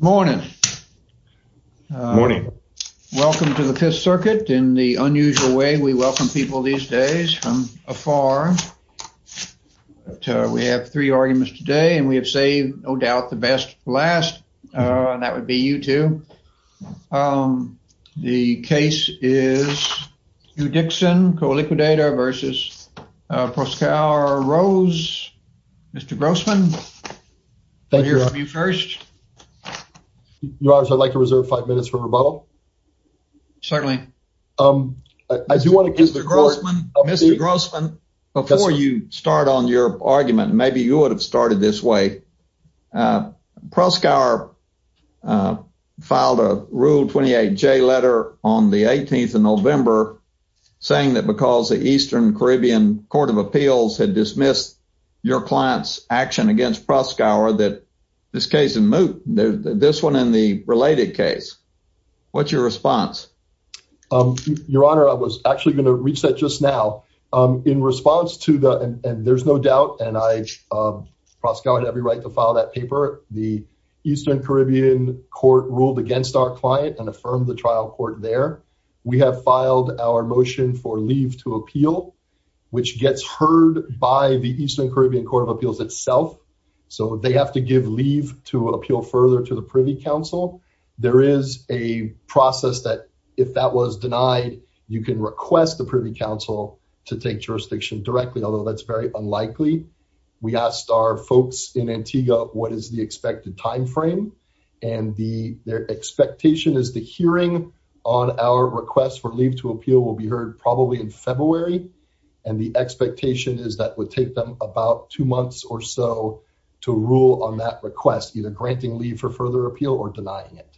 Morning. Welcome to the Fifth Circuit in the unusual way we welcome people these days from afar. We have three arguments today and we have saved no doubt the best for last and that would be you two. The case is Hugh Dickson, co-liquidator versus Proskauer Rose. Mr. Grossman, we'll hear yours. I'd like to reserve five minutes for rebuttal. Certainly. Mr. Grossman, before you start on your argument, maybe you would have started this way. Proskauer filed a Rule 28J letter on the 18th of November saying that because the Eastern Caribbean Court of Appeals had dismissed your client's action against Proskauer that this case is moot, this one and the related case. What's your response? Your Honor, I was actually going to reach that just now. In response to the, and there's no doubt, and Proskauer had every right to file that paper, the Eastern Caribbean Court ruled against our client and affirmed the trial court there. We have filed our motion for the Eastern Caribbean Court of Appeals itself. They have to give leave to appeal further to the Privy Council. There is a process that if that was denied, you can request the Privy Council to take jurisdiction directly, although that's very unlikely. We asked our folks in Antigua what is the expected timeframe. Their expectation is the hearing on our request for leave to appeal will be heard probably in February, and the expectation is that would take them about two months or so to rule on that request, either granting leave for further appeal or denying it.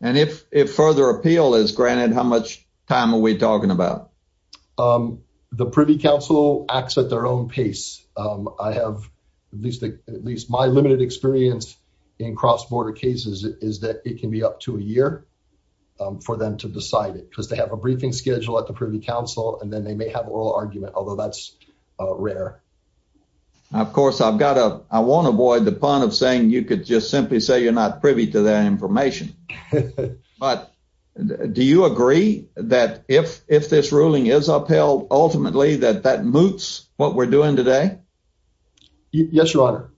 And if further appeal is granted, how much time are we talking about? The Privy Council acts at their own pace. I have at least my limited experience in cross-border cases is that it be up to a year for them to decide it because they have a briefing schedule at the Privy Council and then they may have oral argument, although that's rare. Of course, I've got to, I won't avoid the pun of saying you could just simply say you're not privy to that information, but do you agree that if this ruling is upheld, ultimately that that moots what we're doing today? Yes, Your Honor.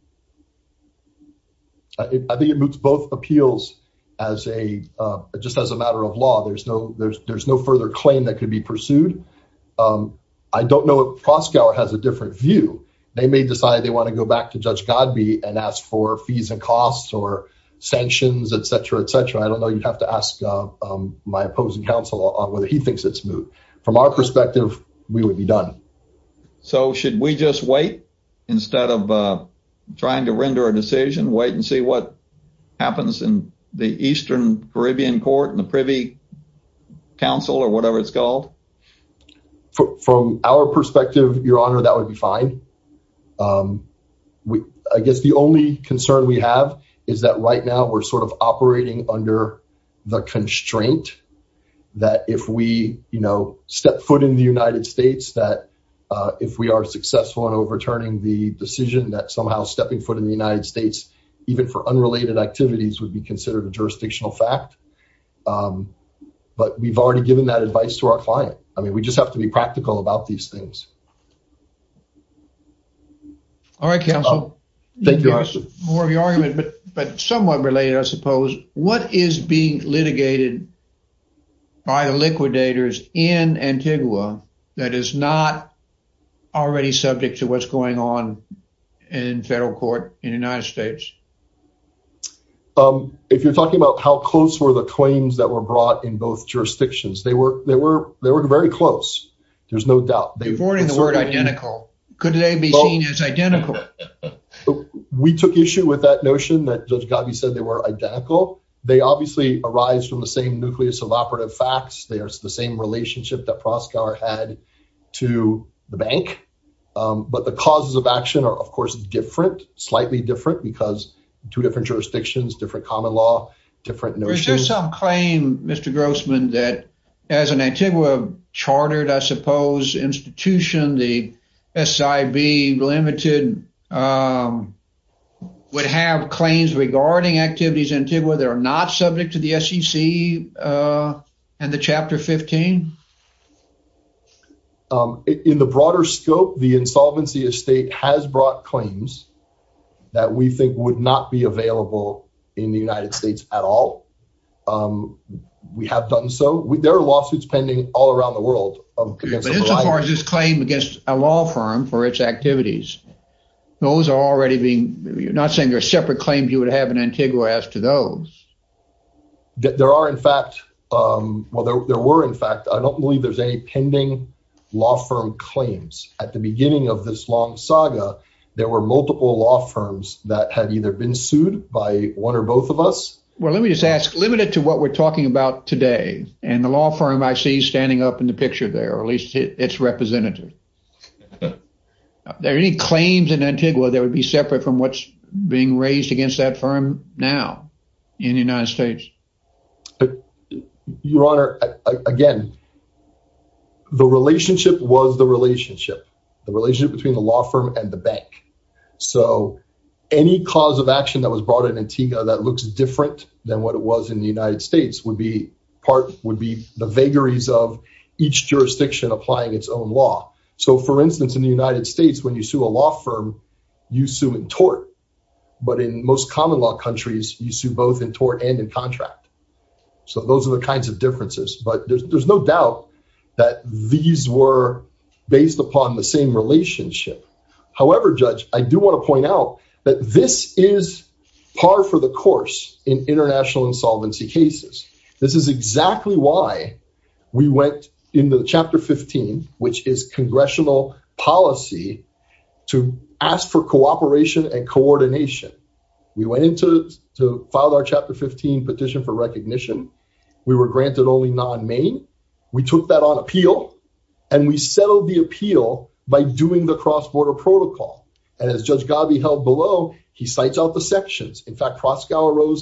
I think it moots both appeals as a, just as a matter of law. There's no further claim that could be pursued. I don't know if Proskauer has a different view. They may decide they want to go back to Judge Godby and ask for fees and costs or sanctions, etc., etc. I don't know. You'd have to ask my opposing counsel on whether he thinks it's moot. From our perspective, we would be done. So should we just wait instead of trying to render a decision, wait and see what happens in the Eastern Caribbean Court and the Privy Council or whatever it's called? From our perspective, Your Honor, that would be fine. I guess the only concern we have is that that if we are successful in overturning the decision that somehow stepping foot in the United States, even for unrelated activities, would be considered a jurisdictional fact. But we've already given that advice to our client. I mean, we just have to be practical about these things. All right, counsel. Thank you, Your Honor. More of your argument, but somewhat related, I suppose. What is being litigated by the liquidators in Antigua that is not already subject to what's going on in federal court in the United States? If you're talking about how close were the claims that were brought in both jurisdictions, they were very close. There's no doubt. You're avoiding the word identical. Could they be seen as identical? We took issue with that notion that Judge Godby said they were identical. They obviously arise from the same nucleus of operative facts. They are the same relationship that Proscar had to the bank. But the causes of action are, of course, different, slightly different, because two different jurisdictions, different common law, different notions. Is there some claim, Mr. Grossman, that as an Antigua chartered, I suppose, institution, the SIB limited, would have claims regarding activities in Antigua that are not subject to the SEC and the Chapter 15? In the broader scope, the insolvency estate has brought claims that we think would not be available in the United States at all. We have done so. There are lawsuits pending all around the world. But as far as this claim against a law firm for its activities, those are already being, you're not saying there are separate claims you would have in Antigua as to those. There are, in fact, well, there were, in fact, I don't believe there's any pending law firm claims. At the beginning of this long saga, there were multiple law firms that had either been sued by one or both of us. Well, let me just ask, limited to what we're talking about today, and the law firm I see standing up in the picture there, or at least its representative, are there any claims in Antigua that would be separate from what's being raised against that firm now in the United States? Your Honor, again, the relationship was the relationship, the relationship between the law firm and the bank. So any cause of action that was brought in Antigua that looks different than what it was in the United States would be part, would be the vagaries of each jurisdiction applying its own law. So for instance, in the United States, when you sue a law firm, you sue in tort, but in most common law countries, you sue both in tort and in contract. So those are the kinds of differences, but there's no doubt that these were based upon the same relationship. However, Judge, I do want to point out that this is par for the course in international insolvency cases. This is exactly why we went into Chapter 15, which is congressional policy, to ask for cooperation and coordination. We went into to file our Chapter 15 petition for recognition. We were granted only non-main. We took that on appeal, and we settled the appeal by doing the cross-border protocol. And as Judge Gabi held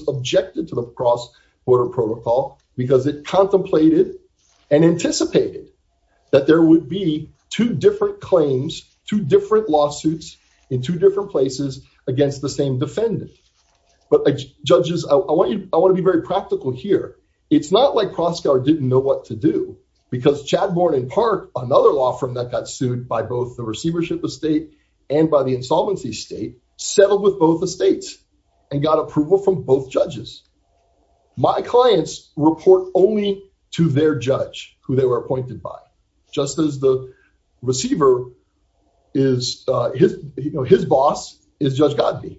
objected to the cross-border protocol because it contemplated and anticipated that there would be two different claims, two different lawsuits in two different places against the same defendant. But Judges, I want you, I want to be very practical here. It's not like Proskauer didn't know what to do because Chadbourne and Park, another law firm that got sued by both the receivership of state and by the insolvency state, settled with both the states and got approval from both judges. My clients report only to their judge, who they were appointed by, just as the receiver is, you know, his boss is Judge Gabi.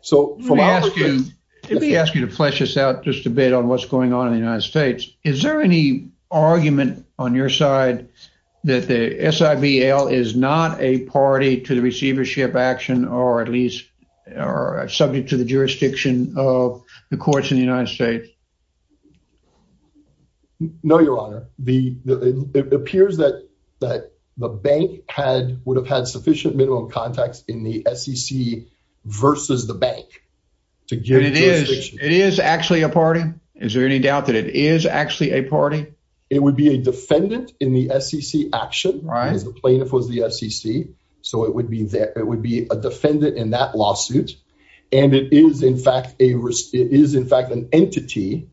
So, from our view... Let me ask you to flesh this out just a bit on what's going on in the United States. Is there any argument on your side that the SIBL is not a party to the receivership action, or at least are subject to the jurisdiction of the courts in the United States? No, Your Honor. It appears that the bank would have had sufficient minimum contacts in the SEC versus the bank to give it jurisdiction. It is actually a party? Is there any doubt that it is actually a party? It would be a defendant in the SEC action, as the plaintiff was the SEC. So, it would be a defendant in that lawsuit, and it is, in fact, an entity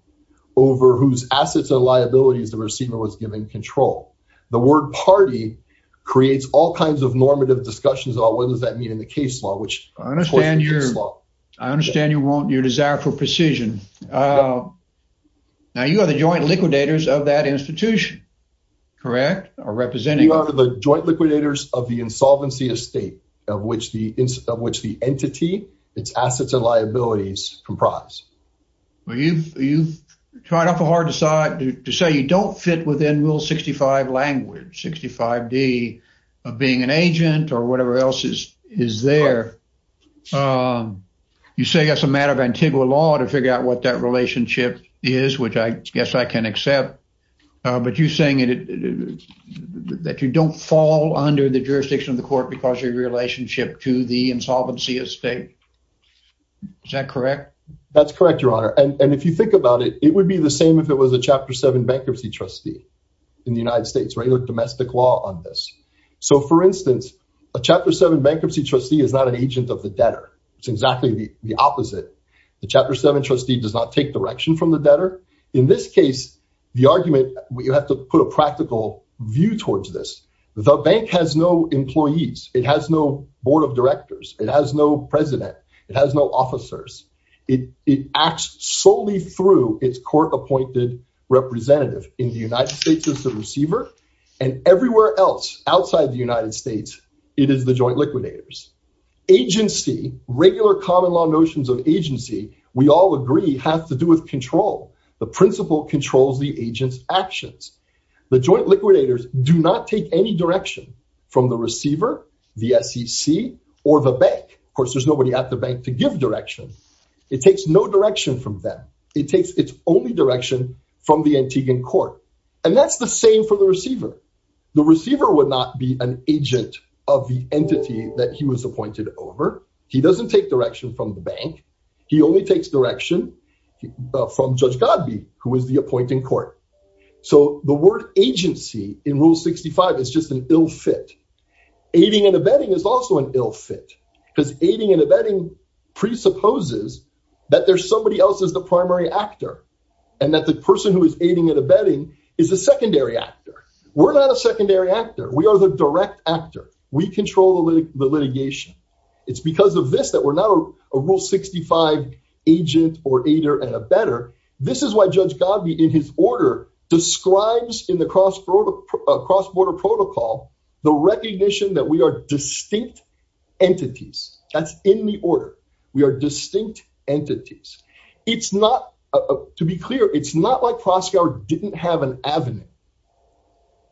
over whose assets and liabilities the receiver was given control. The word party creates all kinds of normative discussions about what does that mean in the case law, which... I understand you want your desire for precision. Now, you are the joint liquidators of that institution, correct? You are the joint liquidators of the insolvency estate of which the entity, its assets and liabilities comprise. Well, you've tried awful hard to say you don't fit within Rule 65 language, 65D of being an agent or whatever else is there. You say that's a matter of Antigua law to figure out what that relationship is, which I guess I can accept, but you're saying that you don't fall under the jurisdiction of the court because of your relationship to the insolvency estate. Is that correct? That's correct, Your Honor. And if you think about it, it would be the same if it was a Chapter 7 bankruptcy trustee in the United States, regular domestic law on this. So, for instance, a Chapter 7 bankruptcy trustee is not an agent of the debtor. It's exactly the opposite. The Chapter 7 trustee does not take direction from the debtor. In this case, the argument, you have to put a practical view towards this. The bank has no employees. It has no board of directors. It has no president. It has no officers. It acts solely through its court-appointed representative. In the United States, it's the receiver. And everywhere else outside the United States, it is the joint liquidators. Agency, regular common law notions of agency, we all agree, have to do with control. The principle controls the agent's actions. The joint liquidators do not take any direction from the receiver, the SEC, or the bank. Of course, there's nobody at the bank to give direction. It takes no direction from them. It takes its only direction from the Antiguan court. And that's the same for the receiver. The receiver would not be an agent of the entity that he was appointed over. He doesn't take direction from the bank. He only takes direction from Judge Godby, who is the appointing court. So the word agency in Rule 65 is just an ill fit. Aiding and abetting is also an ill fit, because aiding and abetting presupposes that there's somebody else as the primary actor, and that the person who is aiding and abetting is the litigation. It's because of this that we're not a Rule 65 agent or aider and abetter. This is why Judge Godby, in his order, describes in the cross-border protocol the recognition that we are distinct entities. That's in the order. We are distinct entities. It's not, to be clear, it's not like Proskauer didn't have an avenue.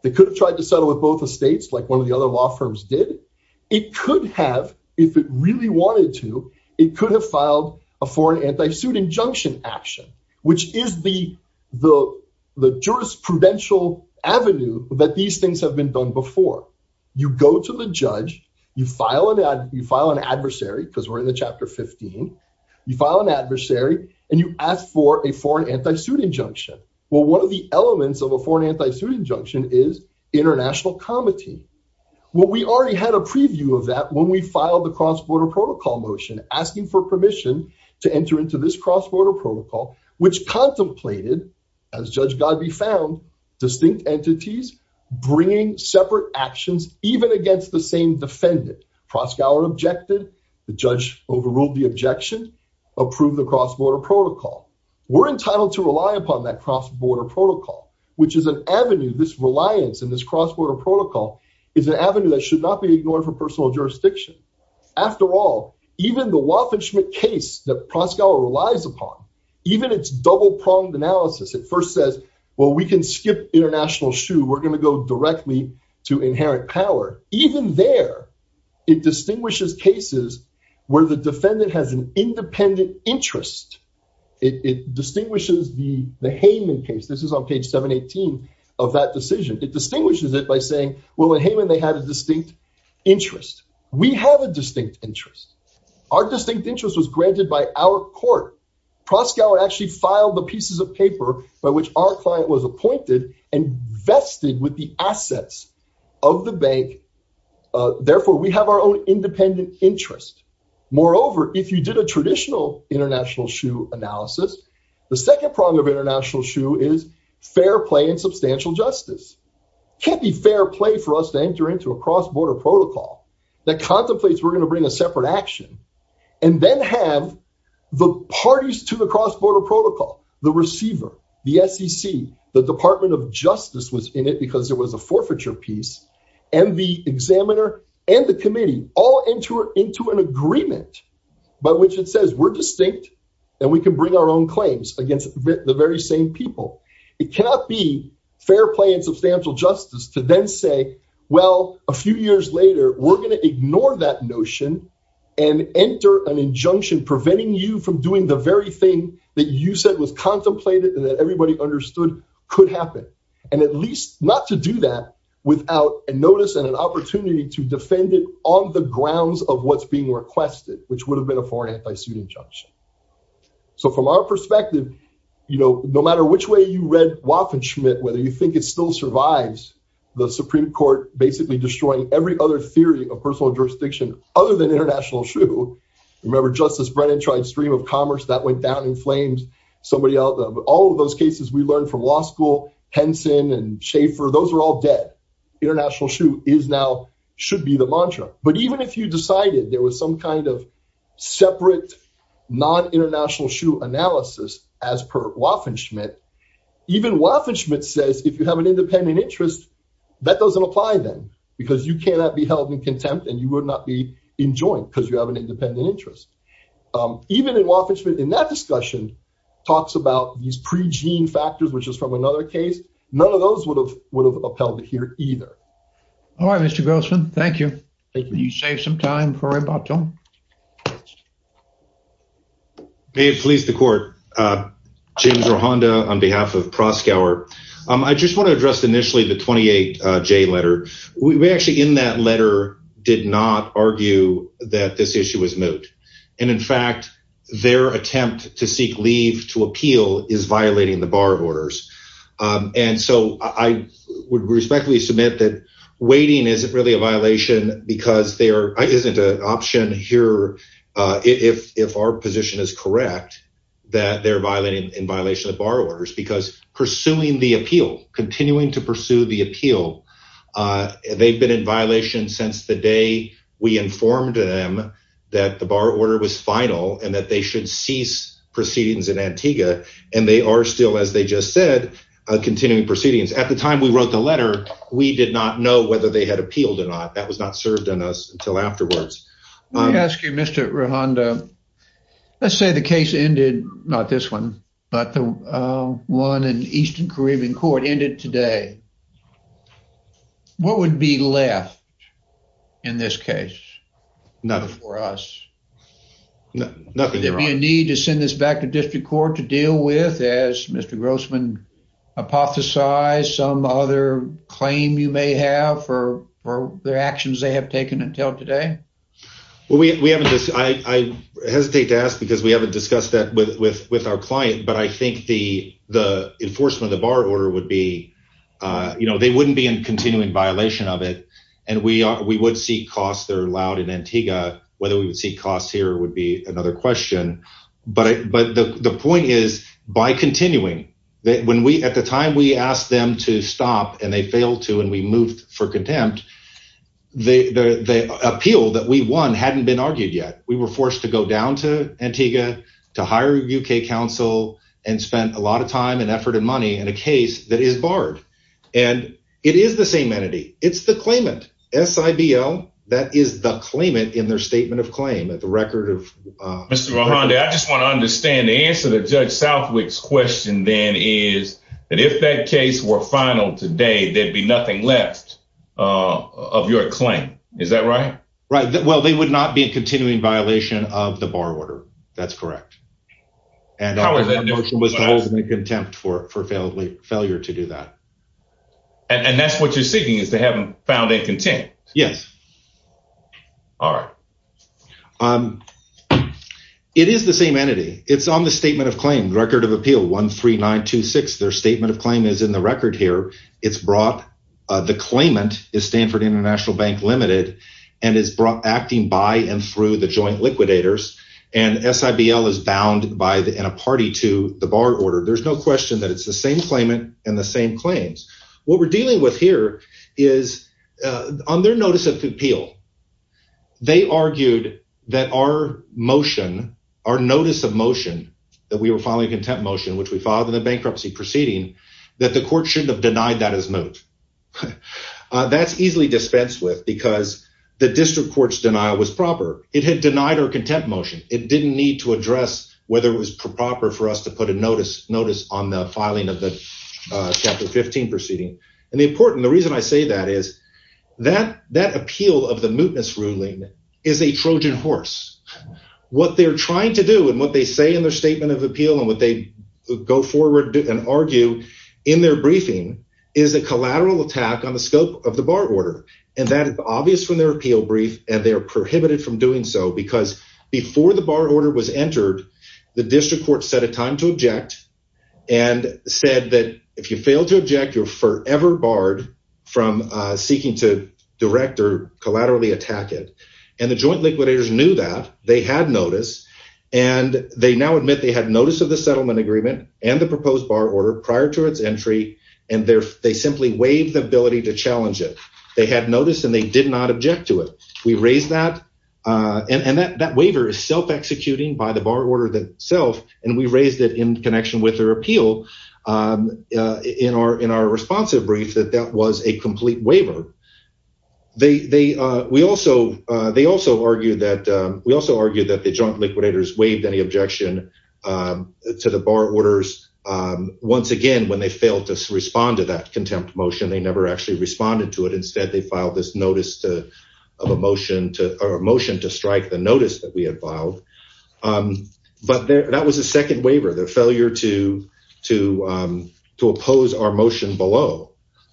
They could have tried to settle with both the if it really wanted to, it could have filed a foreign anti-suit injunction action, which is the jurisprudential avenue that these things have been done before. You go to the judge, you file an adversary, because we're in the Chapter 15, you file an adversary, and you ask for a foreign anti-suit injunction. Well, one of the elements of a foreign anti-suit injunction is international comity. Well, we already had a preview of that when we filed the cross-border protocol motion, asking for permission to enter into this cross-border protocol, which contemplated, as Judge Godby found, distinct entities bringing separate actions even against the same defendant. Proskauer objected, the judge overruled the objection, approved the cross-border protocol. We're entitled to rely upon that cross-border protocol, which is an avenue, this reliance in this cross-border protocol is an avenue that should not be ignored for personal jurisdiction. After all, even the Waffen-Schmidt case that Proskauer relies upon, even its double-pronged analysis, it first says, well, we can skip international shoe, we're going to go directly to inherent power. Even there, it distinguishes cases where the defendant has an independent interest. It distinguishes the Hayman case. This is on page 718 of that decision. It distinguishes it by saying, well, in Hayman, they had a distinct interest. We have a distinct interest. Our distinct interest was granted by our court. Proskauer actually filed the pieces of paper by which our client was appointed and vested with the assets of the bank. Therefore, we have our own independent interest. Moreover, if you did a traditional international shoe analysis, the second prong of international shoe is fair play and substantial justice. Can't be fair play for us to enter into a cross-border protocol that contemplates we're going to bring a separate action and then have the parties to the cross-border protocol, the receiver, the SEC, the Department of Justice was in it because it was a forfeiture piece, and the examiner and the committee all enter into an agreement by which it says we're distinct and we can bring our own claims against the very same people. It cannot be fair play and substantial justice to then say, well, a few years later, we're going to ignore that notion and enter an injunction preventing you from doing the very thing that you said was contemplated and everybody understood could happen. And at least not to do that without a notice and an opportunity to defend it on the grounds of what's being requested, which would have been a foreign anti-suit injunction. So from our perspective, no matter which way you read Waffen-Schmidt, whether you think it still survives the Supreme Court basically destroying every other theory of personal jurisdiction other than international shoe, remember Justice Brennan tried stream of cases we learned from law school, Henson and Schaefer, those are all dead. International shoe is now, should be the mantra. But even if you decided there was some kind of separate non-international shoe analysis as per Waffen-Schmidt, even Waffen-Schmidt says if you have an independent interest, that doesn't apply then because you cannot be held in contempt and you would not be enjoined because you have an independent interest. Even in Waffen-Schmidt, in that discussion, talks about these pre-gene factors, which is from another case, none of those would have upheld it here either. All right, Mr. Grossman, thank you. Thank you. You saved some time for a bottom. May it please the court. James Rohanda on behalf of Proskauer. I just want to address initially the 28J letter. We actually in that letter did not argue that this issue was moot. And in fact, their attempt to seek leave to appeal is violating the bar of orders. And so I would respectfully submit that waiting isn't really a violation because there isn't an option here if our position is correct, that they're violating in violation of bar orders because pursuing the appeal, continuing to pursue the appeal, they've been in violation since the day we informed them that the bar order was final and that they should cease proceedings in Antigua. And they are still, as they just said, continuing proceedings. At the time we wrote the letter, we did not know whether they had appealed or not. That was not served on us until afterwards. Let me ask you, Mr. Rohanda, let's say the case ended, not this one, but the one in Eastern today. What would be left in this case for us? Nothing. Would there be a need to send this back to district court to deal with, as Mr. Grossman hypothesized, some other claim you may have for their actions they have taken until today? Well, I hesitate to ask because we haven't the enforcement of the bar order would be, you know, they wouldn't be in continuing violation of it. And we would seek costs that are allowed in Antigua. Whether we would seek costs here would be another question. But the point is, by continuing, at the time we asked them to stop and they failed to and we moved for contempt, the appeal that we won hadn't been argued yet. We were forced to go down to Antigua to hire a UK council and spent a lot of time and effort and money in a case that is barred. And it is the same entity. It's the claimant, S-I-B-L, that is the claimant in their statement of claim at the record of Mr. Rohanda. I just want to understand the answer to Judge Southwick's question then is that if that case were final today, there'd be nothing left of your claim. Is that right? Right. Well, they would not be in continuing violation of the bar order. That's correct. And that notion was to hold them in contempt for failure to do that. And that's what you're seeking is to have them found in contempt. Yes. All right. It is the same entity. It's on the statement of claim, record of appeal 13926. Their statement of claim is in the record here. It's brought, the claimant is Stanford International Bank Limited and is brought acting by and through the joint liquidators. And S-I-B-L is bound by the, in a party to the bar order. There's no question that it's the same claimant and the same claims. What we're dealing with here is on their notice of appeal, they argued that our motion, our notice of motion that we were filing a contempt motion, which we filed in the bankruptcy proceeding, that the court shouldn't have denied that as moot. That's easily dispensed with because the district court's denial was proper. It had denied our contempt motion. It didn't need to address whether it was proper for us to put a notice on the filing of the Chapter 15 proceeding. And the important, the reason I say that is that that appeal of the mootness ruling is a Trojan horse. What they're trying to do and what they say in their statement of appeal and what they go forward and argue in their briefing is a collateral attack on the scope of the bar order. And that is obvious from their appeal brief and they are prohibited from doing so because before the bar order was entered, the district court set a time to object and said that if you fail to object, you're forever barred from seeking to direct or collaterally attack it. And the joint admit they had notice of the settlement agreement and the proposed bar order prior to its entry. And they simply waived the ability to challenge it. They had noticed and they did not object to it. We raised that. And that waiver is self-executing by the bar order itself. And we raised it in connection with their appeal in our responsive brief that that was a complete waiver. They also argued that the joint liquidators waived any objection to the bar orders. Once again, when they failed to respond to that contempt motion, they never actually responded to it. Instead, they filed this notice of a motion to strike the notice that we had filed. But that was a second waiver, their failure to oppose our motion below.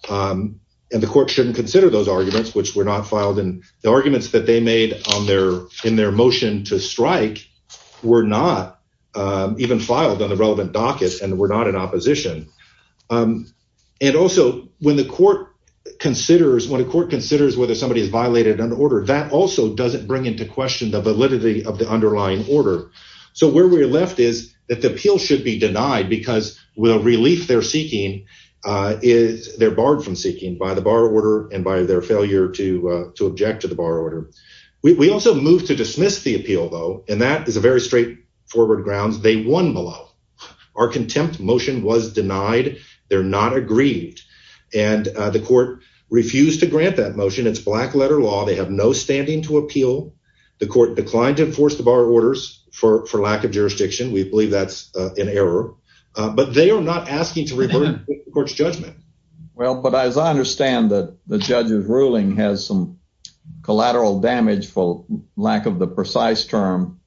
And the court shouldn't consider those arguments, which were not filed in the arguments that they made on their in their motion to strike were not even filed on the relevant dockets and were not in opposition. And also, when the court considers when a court considers whether somebody has violated an order, that also doesn't bring into question the validity of the underlying order. So where we're left is that the appeal should be denied because we'll relief they're seeking is they're barred from seeking by the bar order and by their failure to object to the bar order. We also moved to dismiss the appeal, though, and that is a very straightforward grounds. They won below. Our contempt motion was denied. They're not aggrieved. And the court refused to grant that motion. It's black letter law. They have no standing to appeal. The court declined to enforce the bar orders for lack of jurisdiction. We believe that's an error, but they are not asking to revert the court's judgment. Well, but as I understand that the judge's ruling has some collateral damage for lack of the precise term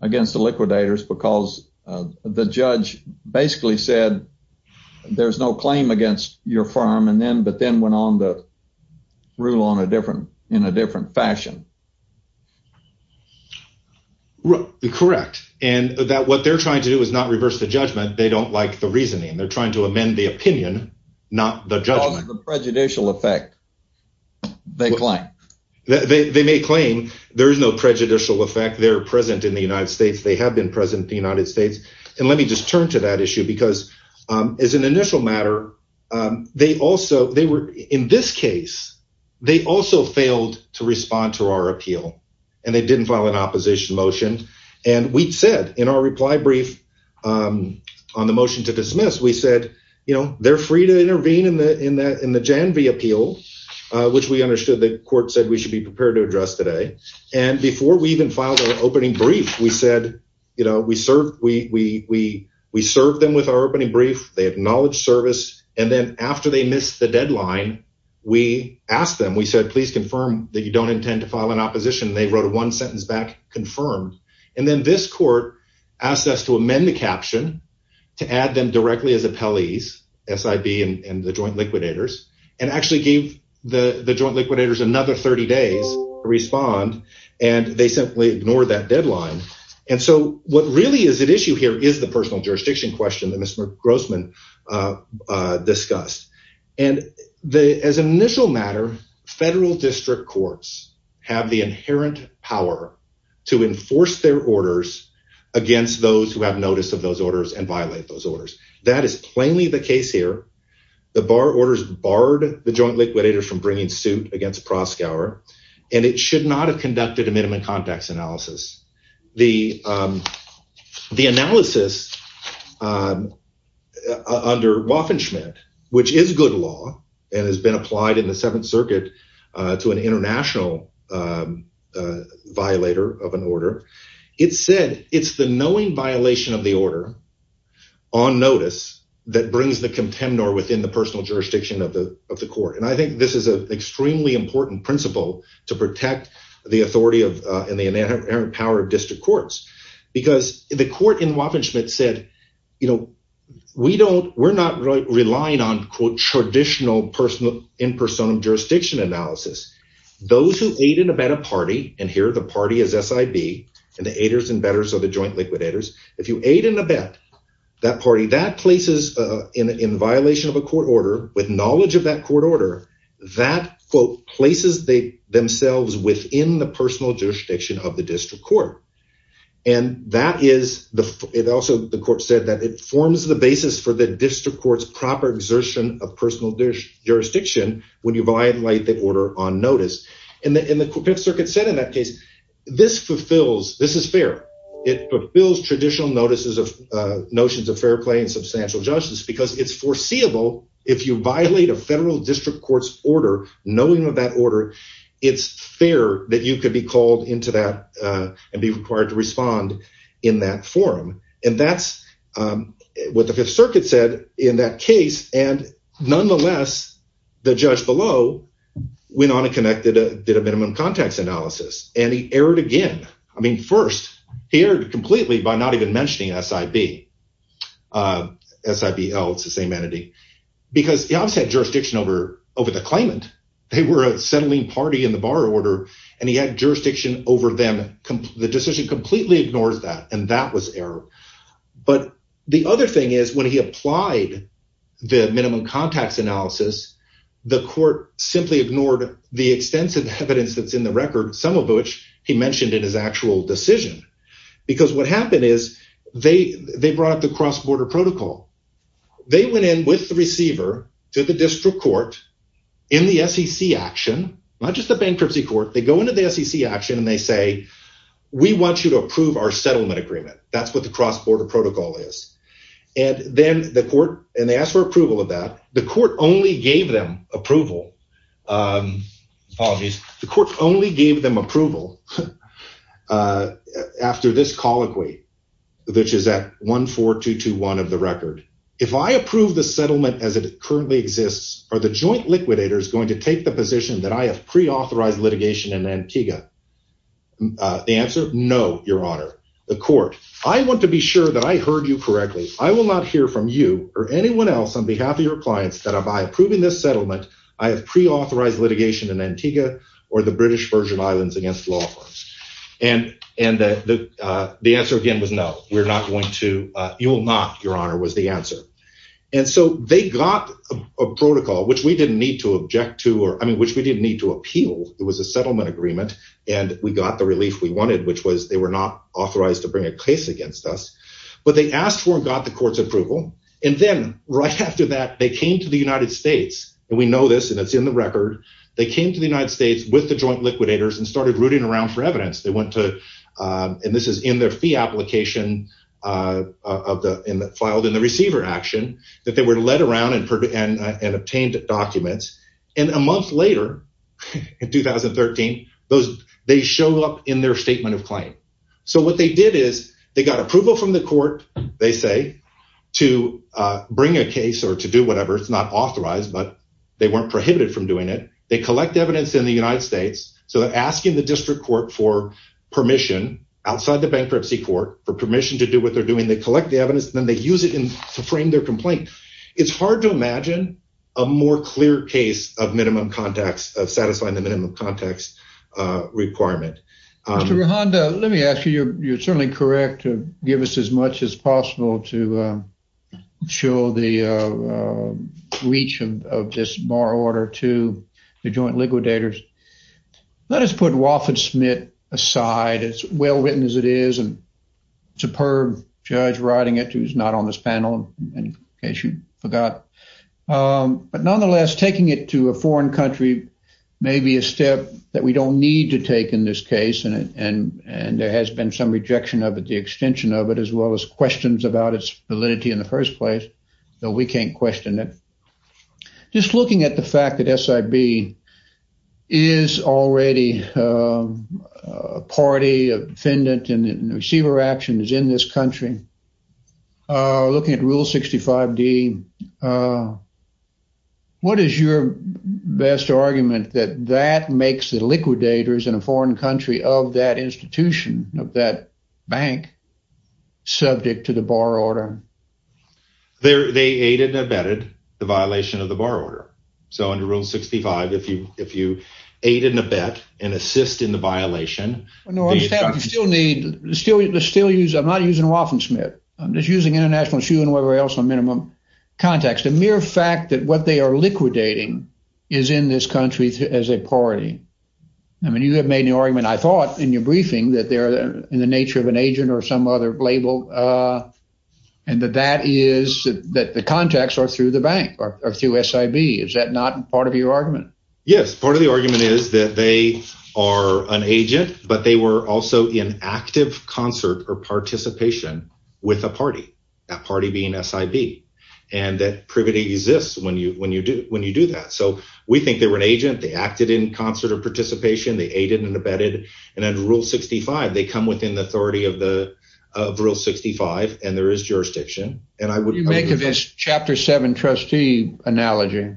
against the liquidators, because the judge basically said there's no claim against your firm and then but then went on to rule on a different in a different fashion. Correct. And that what they're trying to do is not reverse the judgment. They don't like reasoning. They're trying to amend the opinion, not the judgment, the prejudicial effect. They claim that they may claim there is no prejudicial effect. They're present in the United States. They have been present in the United States. And let me just turn to that issue, because as an initial matter, they also they were in this case, they also failed to respond to our appeal and they didn't file an opposition motion. And we said in our reply brief on the motion to dismiss, we said, you know, they're free to intervene in the Jan V appeal, which we understood the court said we should be prepared to address today. And before we even filed an opening brief, we said, you know, we served we we we we served them with our opening brief. They acknowledge service. And then after they missed the deadline, we asked them, we said, please confirm that you don't intend to file an opposition. They wrote one sentence back, confirmed. And then this court asked us to amend the caption to add them directly as appellees, S.I.B. and the joint liquidators and actually gave the joint liquidators another 30 days to respond. And they simply ignored that deadline. And so what really is at issue here is the personal jurisdiction question that Mr. Grossman discussed. And as an initial matter, federal district courts have the inherent power to enforce their orders against those who have notice of those orders and violate those orders. That is plainly the case here. The bar orders barred the joint liquidator from bringing suit against Praskauer, and it should not have conducted a minimum context analysis. The the analysis under Waffen Schmitt, which is good law and has been applied in the Seventh International, violator of an order. It said it's the knowing violation of the order on notice that brings the contender within the personal jurisdiction of the of the court. And I think this is an extremely important principle to protect the authority of and the inherent power of district courts, because the court in Waffen Schmitt said, you know, we don't we're not relying on quote traditional personal in person of jurisdiction analysis. Those who ate in a better party. And here the party is S.I.B. and the haters and betters of the joint liquidators. If you ate in a bet that party that places in violation of a court order with knowledge of that court order that quote places they themselves within the personal jurisdiction of the district court. And that is the it also the court said that it forms the basis for the district court's proper exertion of personal jurisdiction when you violate the order on notice. And the circuit said in that case, this fulfills this is fair. It fulfills traditional notices of notions of fair play and substantial justice because it's foreseeable if you violate a federal district court's order, knowing of that order, it's fair that you could be called into that and be required to respond in that forum. And that's what the Fifth Circuit said in that case. And nonetheless, the judge below went on and connected a minimum context analysis. And he erred again. I mean, first, he erred completely by not even mentioning S.I.B. S.I.B. else the same entity because I've said jurisdiction over over the claimant. They were a settling party in the bar order. And he had jurisdiction over them. The decision completely ignores that. And that was error. But the other thing is, when he applied the minimum context analysis, the court simply ignored the extensive evidence that's in the record, some of which he mentioned in his actual decision, because what happened is they they brought the cross-border protocol. They went in with the receiver to the district court in the SEC action, not just the bankruptcy court. They go into the SEC action and they say, we want you to approve our settlement agreement. That's what the cross-border protocol is. And then the court and they asked for approval of that. The court only gave them approval. The court only gave them approval after this colloquy, which is at 14221 of the record. If I approve the settlement as it currently exists, are the joint liquidators going to take the position that I have pre-authorized litigation in Antigua? The answer, no, your honor, the court, I want to be sure that I heard you correctly. I will not hear from you or anyone else on behalf of your clients that I by approving this settlement, I have pre-authorized litigation in Antigua or the British Virgin Islands against law firms. And the answer again was, no, we're not going to, you will not, your honor, was the answer. And so they got a protocol, which we didn't need to object to or I mean, which we didn't need to appeal. It was a settlement agreement and we got the relief we wanted, which was they were not authorized to bring a case against us. But they asked for and got the court's approval. And then right after that, they came to the United States and we know this and it's in the record. They came to the United States with the joint liquidators and started rooting around for evidence. They went to, and this is in their fee application of the, filed in the receiver action that they were led around and obtained documents. And a month later, in 2013, they show up in their statement of claim. So what they did is they got approval from the court, they say, to bring a case or to do whatever. It's not authorized, but they weren't prohibited from doing it. They collect evidence in the United States. So they're asking the district court for permission outside the bankruptcy court for permission to do what they're doing. They collect the evidence and then they use it to frame their complaint. It's hard to imagine a more clear case of minimum context of satisfying the minimum context requirement. Mr. Rehonda, let me ask you, you're certainly correct to give us as much as possible to show the reach of this bar order to the joint liquidators. Let us put Wofford Smith aside, as well written as it is and superb judge writing it, who's not on this panel in case you forgot. But nonetheless, taking it to a foreign country may be a step that we don't need to take in this case. And there has been some rejection of it, the extension of it, as well as questions about its validity in the first place, though we can't question it. Just looking at the fact that SIB is already a party, a defendant, and the receiver action is in this country, looking at Rule 65D, what is your best argument that that makes the liquidators in a foreign country of that institution, of that bank, subject to the bar order? They aided and abetted the violation of the bar order. So, under Rule 65, if you aid and abet and assist in the violation... I'm not using Wofford Smith. I'm just using international issue and whatever else on minimum context. The mere fact that what they are liquidating is in this country as a party. I mean, you have made the argument, I thought in your briefing, that they're in the nature of an agent or some other label and that that is that the contacts are through the bank or through SIB. Is that not part of your argument? Yes. Part of the argument is that they are an agent, but they were also in active concert or participation with a party, that party being SIB, and that privity exists when you do that. So, we think they were an agent. They acted in concert or participation. They aided and abetted. And under Rule 65, they come within the authority of Rule 65, and there is jurisdiction. You make this Chapter 7 trustee analogy.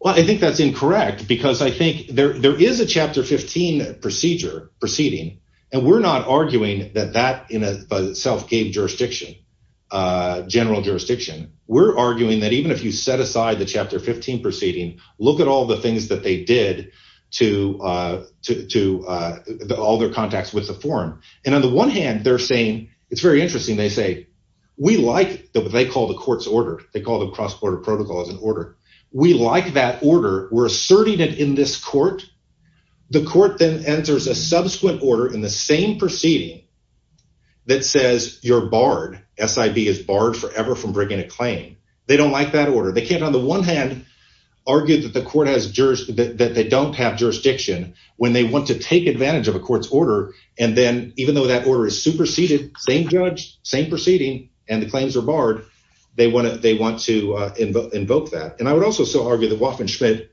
Well, I think that's incorrect because I think there is a Chapter 15 procedure proceeding, and we're not arguing that that in and of itself gave jurisdiction, general jurisdiction. We're arguing that even if you set aside the Chapter 15 proceeding, look at all the things that they did to all their contacts with the forum. And on the one hand, they're saying, it's very interesting. They say, we like what they call the court's order. They call the cross-border protocol as an order. We like that order. We're asserting it in this court. The court then enters a subsequent order in the same proceeding that says you're barred. SIB is barred forever from bringing a claim. They don't like that order. They can't on the one hand argue that they don't have jurisdiction when they want to take advantage of a court's order. And then even though that order is superseded, same judge, same proceeding, and the claims are barred, they want to invoke that. And I would also so argue that Woff and Schmidt,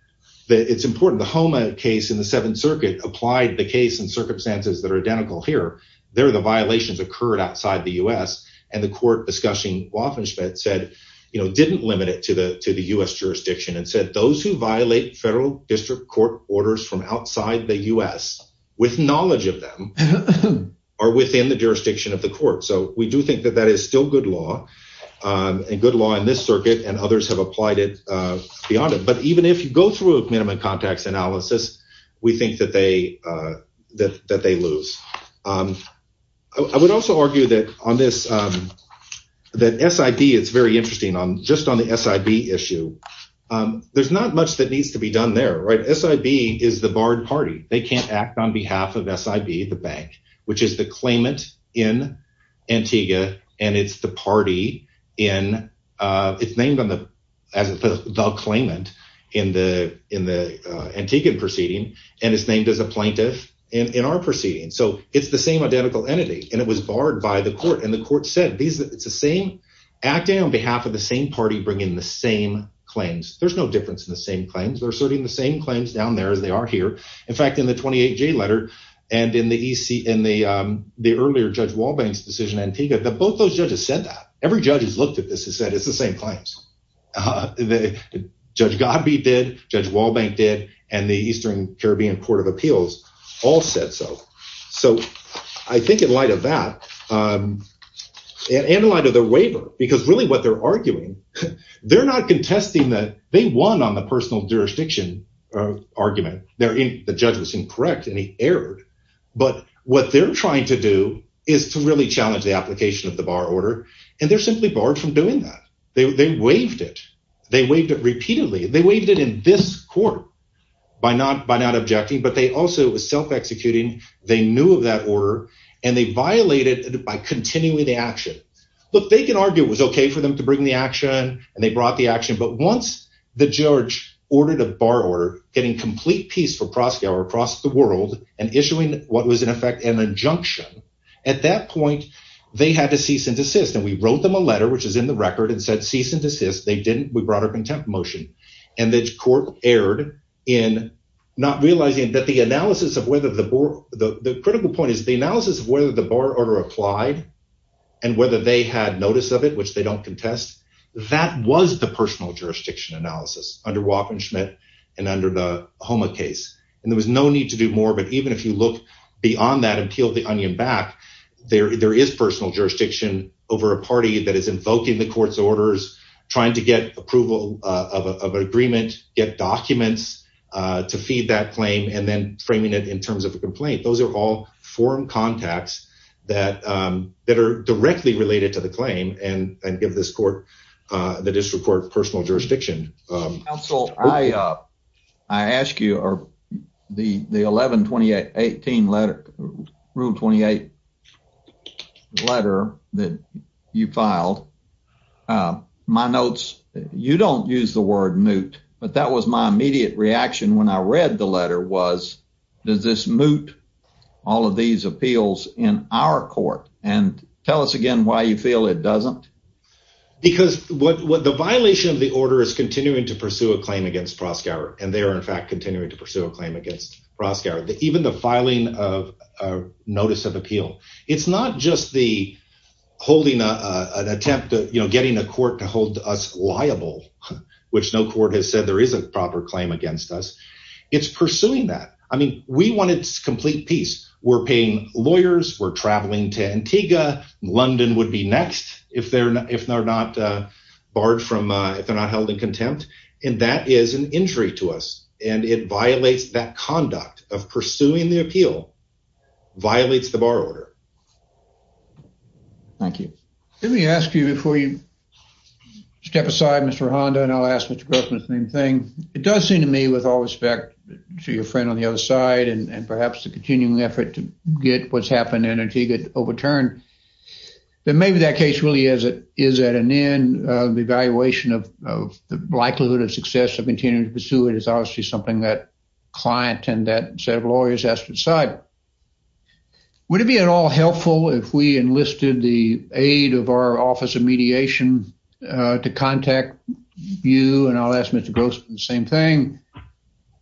it's important, the Homa case in the Seventh Circuit applied the case in circumstances that are identical here. There, the violations occurred outside the U.S. And the court discussing Woff and Schmidt said, you know, didn't limit it to the U.S. jurisdiction and said, those who violate federal district court orders from outside the U.S. with knowledge of them are within the jurisdiction of the court. So we do think that that is still good law, and good law in this through a minimum context analysis, we think that they lose. I would also argue that on this, that SIB, it's very interesting, just on the SIB issue, there's not much that needs to be done there, right? SIB is the barred party. They can't act on behalf of SIB, the bank, which is the as the claimant in the Antigua proceeding, and is named as a plaintiff in our proceeding. So it's the same identical entity, and it was barred by the court. And the court said, it's the same, acting on behalf of the same party, bringing the same claims. There's no difference in the same claims. They're asserting the same claims down there as they are here. In fact, in the 28J letter, and in the earlier Judge Walbank's decision, Antigua, both those judges said that. Every judge who's looked at this has said, it's the same claims. Judge Godby did, Judge Walbank did, and the Eastern Caribbean Court of Appeals all said so. So I think in light of that, and in light of the waiver, because really what they're arguing, they're not contesting that, they won on the personal jurisdiction argument. The judge was incorrect, and he erred. But what they're trying to do is to really challenge the application of the bar order, and they're simply barred from doing that. They waived it. They waived it repeatedly. They waived it in this court by not objecting, but they also, it was self-executing. They knew of that order, and they violated it by continuing the action. Look, they can argue it was okay for them to bring the action, and they brought the action. But once the judge ordered a bar order, getting complete peace for prosecutor across the world, and issuing what was in effect an injunction, at that point, they had to cease and desist. And we wrote them a letter, which is in the record, and said cease and desist. They didn't. We brought up contempt motion, and the court erred in not realizing that the analysis of whether the, the critical point is the analysis of whether the bar order applied, and whether they had notice of it, which they don't contest, that was the personal jurisdiction analysis under Waffen-Schmidt and under the Homa case. And there was no need to more, but even if you look beyond that and peel the onion back, there is personal jurisdiction over a party that is invoking the court's orders, trying to get approval of an agreement, get documents to feed that claim, and then framing it in terms of a complaint. Those are all forum contacts that are directly related to the claim, and give this court, the district court, personal jurisdiction. Counsel, I, I ask you, the, the 11-28-18 letter, Rule 28 letter that you filed, my notes, you don't use the word moot, but that was my immediate reaction when I read the letter was, does this moot all of these appeals in our court? And tell us again why you feel it doesn't. Because what, what the violation of the order is continuing to pursue a claim against Proskauer, and they are in fact, continuing to pursue a claim against Proskauer, even the filing of a notice of appeal. It's not just the holding a, an attempt to, you know, getting a court to hold us liable, which no court has said there is a proper claim against us. It's pursuing that. I mean, we wanted complete peace. We're paying lawyers, we're traveling to Antigua, London would be next if they're not, if they're not barred from, if they're not held in contempt. And that is an injury to us. And it violates that conduct of pursuing the appeal, violates the bar order. Thank you. Let me ask you before you step aside, Mr. Honda, and I'll ask Mr. Grossman the same thing. It does seem to me with all respect to your friend on the other side, and perhaps the continuing effort to get what's then maybe that case really is at an end of the evaluation of the likelihood of success of continuing to pursue it is obviously something that client and that set of lawyers has to decide. Would it be at all helpful if we enlisted the aid of our office of mediation to contact you, and I'll ask Mr. Grossman the same thing,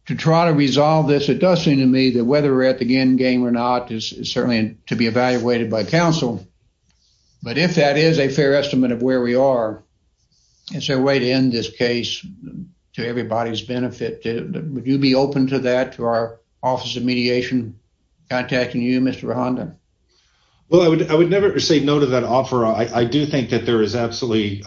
to try to resolve this? It does seem to me that whether we're at the end game or not is certainly to be evaluated by counsel. But if that is a fair estimate of where we are, is there a way to end this case to everybody's benefit? Would you be open to that, to our office of mediation contacting you, Mr. Honda? Well, I would never say no to that offer. I do think that there is absolutely,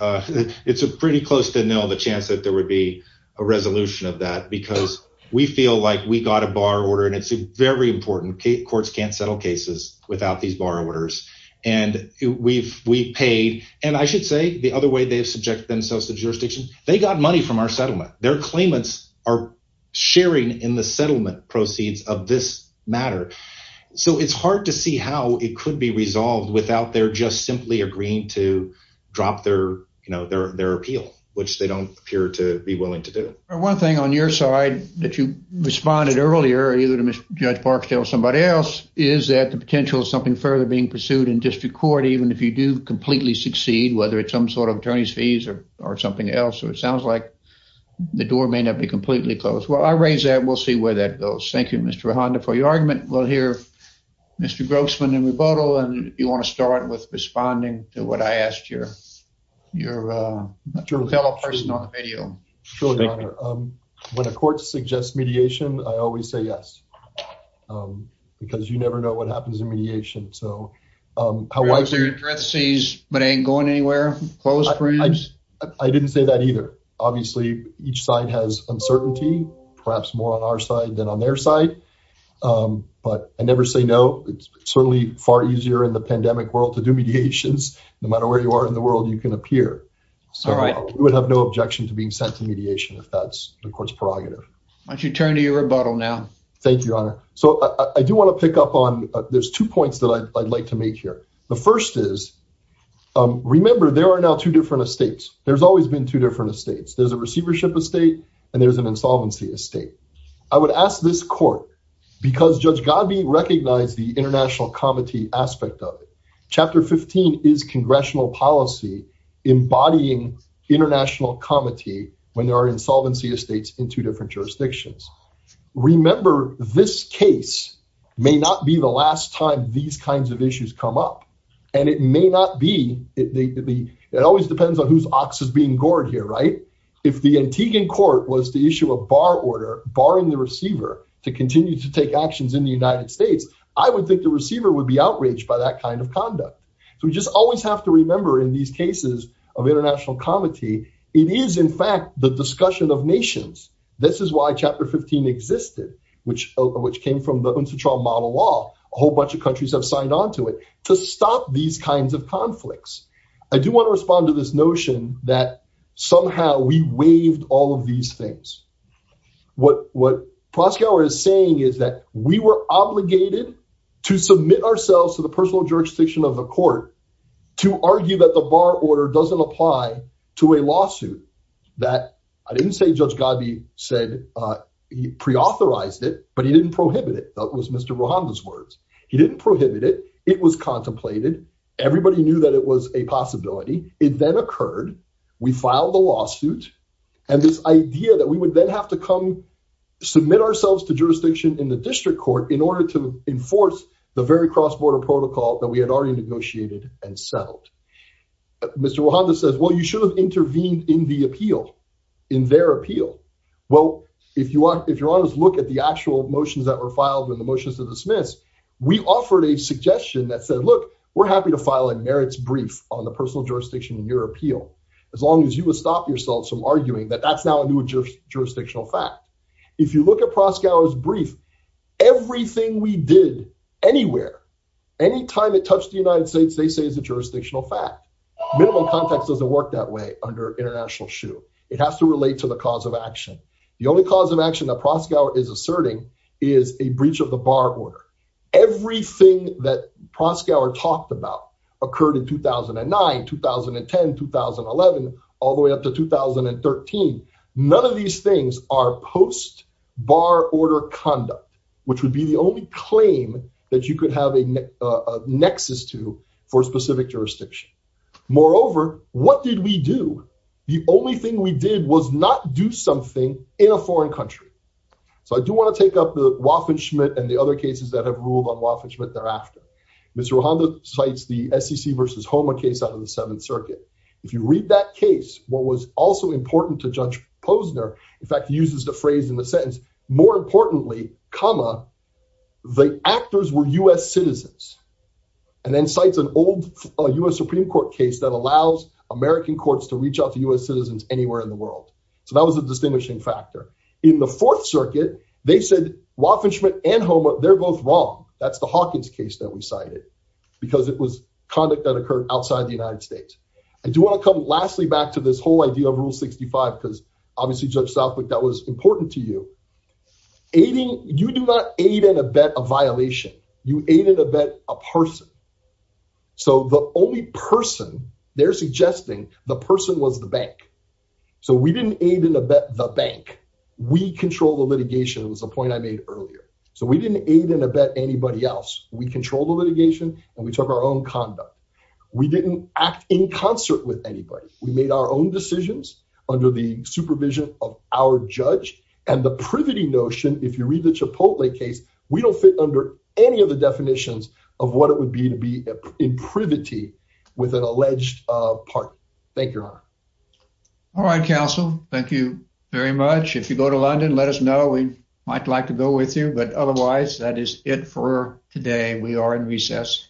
it's pretty close to nil, the chance that there would a resolution of that, because we feel like we got a bar order, and it's very important, courts can't settle cases without these bar orders. And we've paid, and I should say the other way they've subjected themselves to jurisdiction, they got money from our settlement. Their claimants are sharing in the settlement proceeds of this matter. So it's hard to see how it could be resolved without their just simply agreeing to drop their appeal, which they don't appear to be willing to do. One thing on your side that you responded earlier, either to Judge Barksdale or somebody else, is that the potential of something further being pursued in district court, even if you do completely succeed, whether it's some sort of attorney's fees or something else, or it sounds like the door may not be completely closed. Well, I raise that, we'll see where that goes. Thank you, Mr. Honda, for your argument. We'll hear Mr. Grossman in rebuttal, and if you want to start with responding to what I asked your fellow person on the video. When a court suggests mediation, I always say yes, because you never know what happens in mediation. So how wide are your parentheses, but ain't going anywhere, closed frames? I didn't say that either. Obviously, each side has uncertainty, perhaps more on our side than on their side. But I never say no, it's certainly far easier in the pandemic world to do mediations, no matter where you are in the world, you can appear. So we would have no objection to being sent to mediation if that's the court's prerogative. Why don't you turn to your rebuttal now? Thank you, Your Honor. So I do want to pick up on, there's two points that I'd like to make here. The first is, remember, there are now two different estates. There's always been two different estates. There's a receivership estate, and there's an insolvency estate. I would ask this court, because Judge Godby recognized the international comity aspect of it. Chapter 15 is congressional policy, embodying international comity, when there are insolvency estates in two different jurisdictions. Remember, this case may not be the last time these kinds of issues come up. And it may not be, it always depends on whose ox is being gored here, right? If the Antiguan court was to issue a bar order, barring the receiver, to continue to take actions in the United States, I would think the receiver would be outraged by that kind of conduct. So we just always have to remember in these cases of international comity, it is in fact the discussion of nations. This is why Chapter 15 existed, which came from the UNCTAD model law. A whole bunch of countries have signed onto it to stop these kinds of conflicts. I do want to respond to this notion that somehow we waived all of these things. What Proskauer is saying is that we were obligated to submit ourselves to the personal jurisdiction of the court to argue that the bar order doesn't apply to a lawsuit that, I didn't say Judge Godby said, he pre-authorized it, but he didn't prohibit it. That was Mr. Rojanda's words. He didn't prohibit it. It was contemplated. Everybody knew it was a possibility. It then occurred, we filed the lawsuit, and this idea that we would then have to come submit ourselves to jurisdiction in the district court in order to enforce the very cross-border protocol that we had already negotiated and settled. Mr. Rojanda says, well, you should have intervened in the appeal, in their appeal. Well, if you want to look at the actual motions that were filed and the motions to dismiss, we offered a suggestion that said, look, we're happy to file a merits brief on the personal jurisdiction in your appeal, as long as you would stop yourself from arguing that that's now a new jurisdictional fact. If you look at Proskauer's brief, everything we did anywhere, anytime it touched the United States, they say is a jurisdictional fact. Minimal context doesn't work that way under international shoe. It has to relate to the cause of action. The only cause of action that Proskauer is asserting is a breach of the bar order. Everything that Proskauer talked about occurred in 2009, 2010, 2011, all the way up to 2013. None of these things are post-bar order conduct, which would be the only claim that you could have a nexus to for specific jurisdiction. Moreover, what did we do? The only thing we did was not do something in a foreign country. So I do want to take up the Waffen-Schmidt and the other cases that have ruled on Waffen-Schmidt thereafter. Mr. Rohanda cites the SEC versus HOMA case out of the Seventh Circuit. If you read that case, what was also important to Judge Posner, in fact, uses the phrase in the sentence, more importantly, comma, the actors were U.S. citizens, and then cites an old U.S. Supreme Court case that allows American courts to reach out to U.S. citizens anywhere in the world. So that was a distinguishing factor. In the Fourth Circuit, they said Waffen-Schmidt and HOMA, they're both wrong. That's the Hawkins case that we cited because it was conduct that occurred outside the United States. I do want to come lastly back to this whole idea of Rule 65, because obviously, Judge Southwick, that was important to you. Aiding, you do not aid in a bet of violation. You aid in a bet a person. So the only person they're suggesting, the person was the bank. So we didn't aid in a bet the bank. We control the litigation was the point I made earlier. So we didn't aid in a bet anybody else. We control the litigation, and we took our own conduct. We didn't act in concert with anybody. We made our own decisions under the supervision of our judge. And the privity notion, if you read the Chipotle case, we don't fit under any of the definitions of what it would be to be in privity with an alleged partner. Thank you, Your Honor. All right, counsel. Thank you very much. If you go to London, let us know. We might like go with you. But otherwise, that is it for today. We are in recess.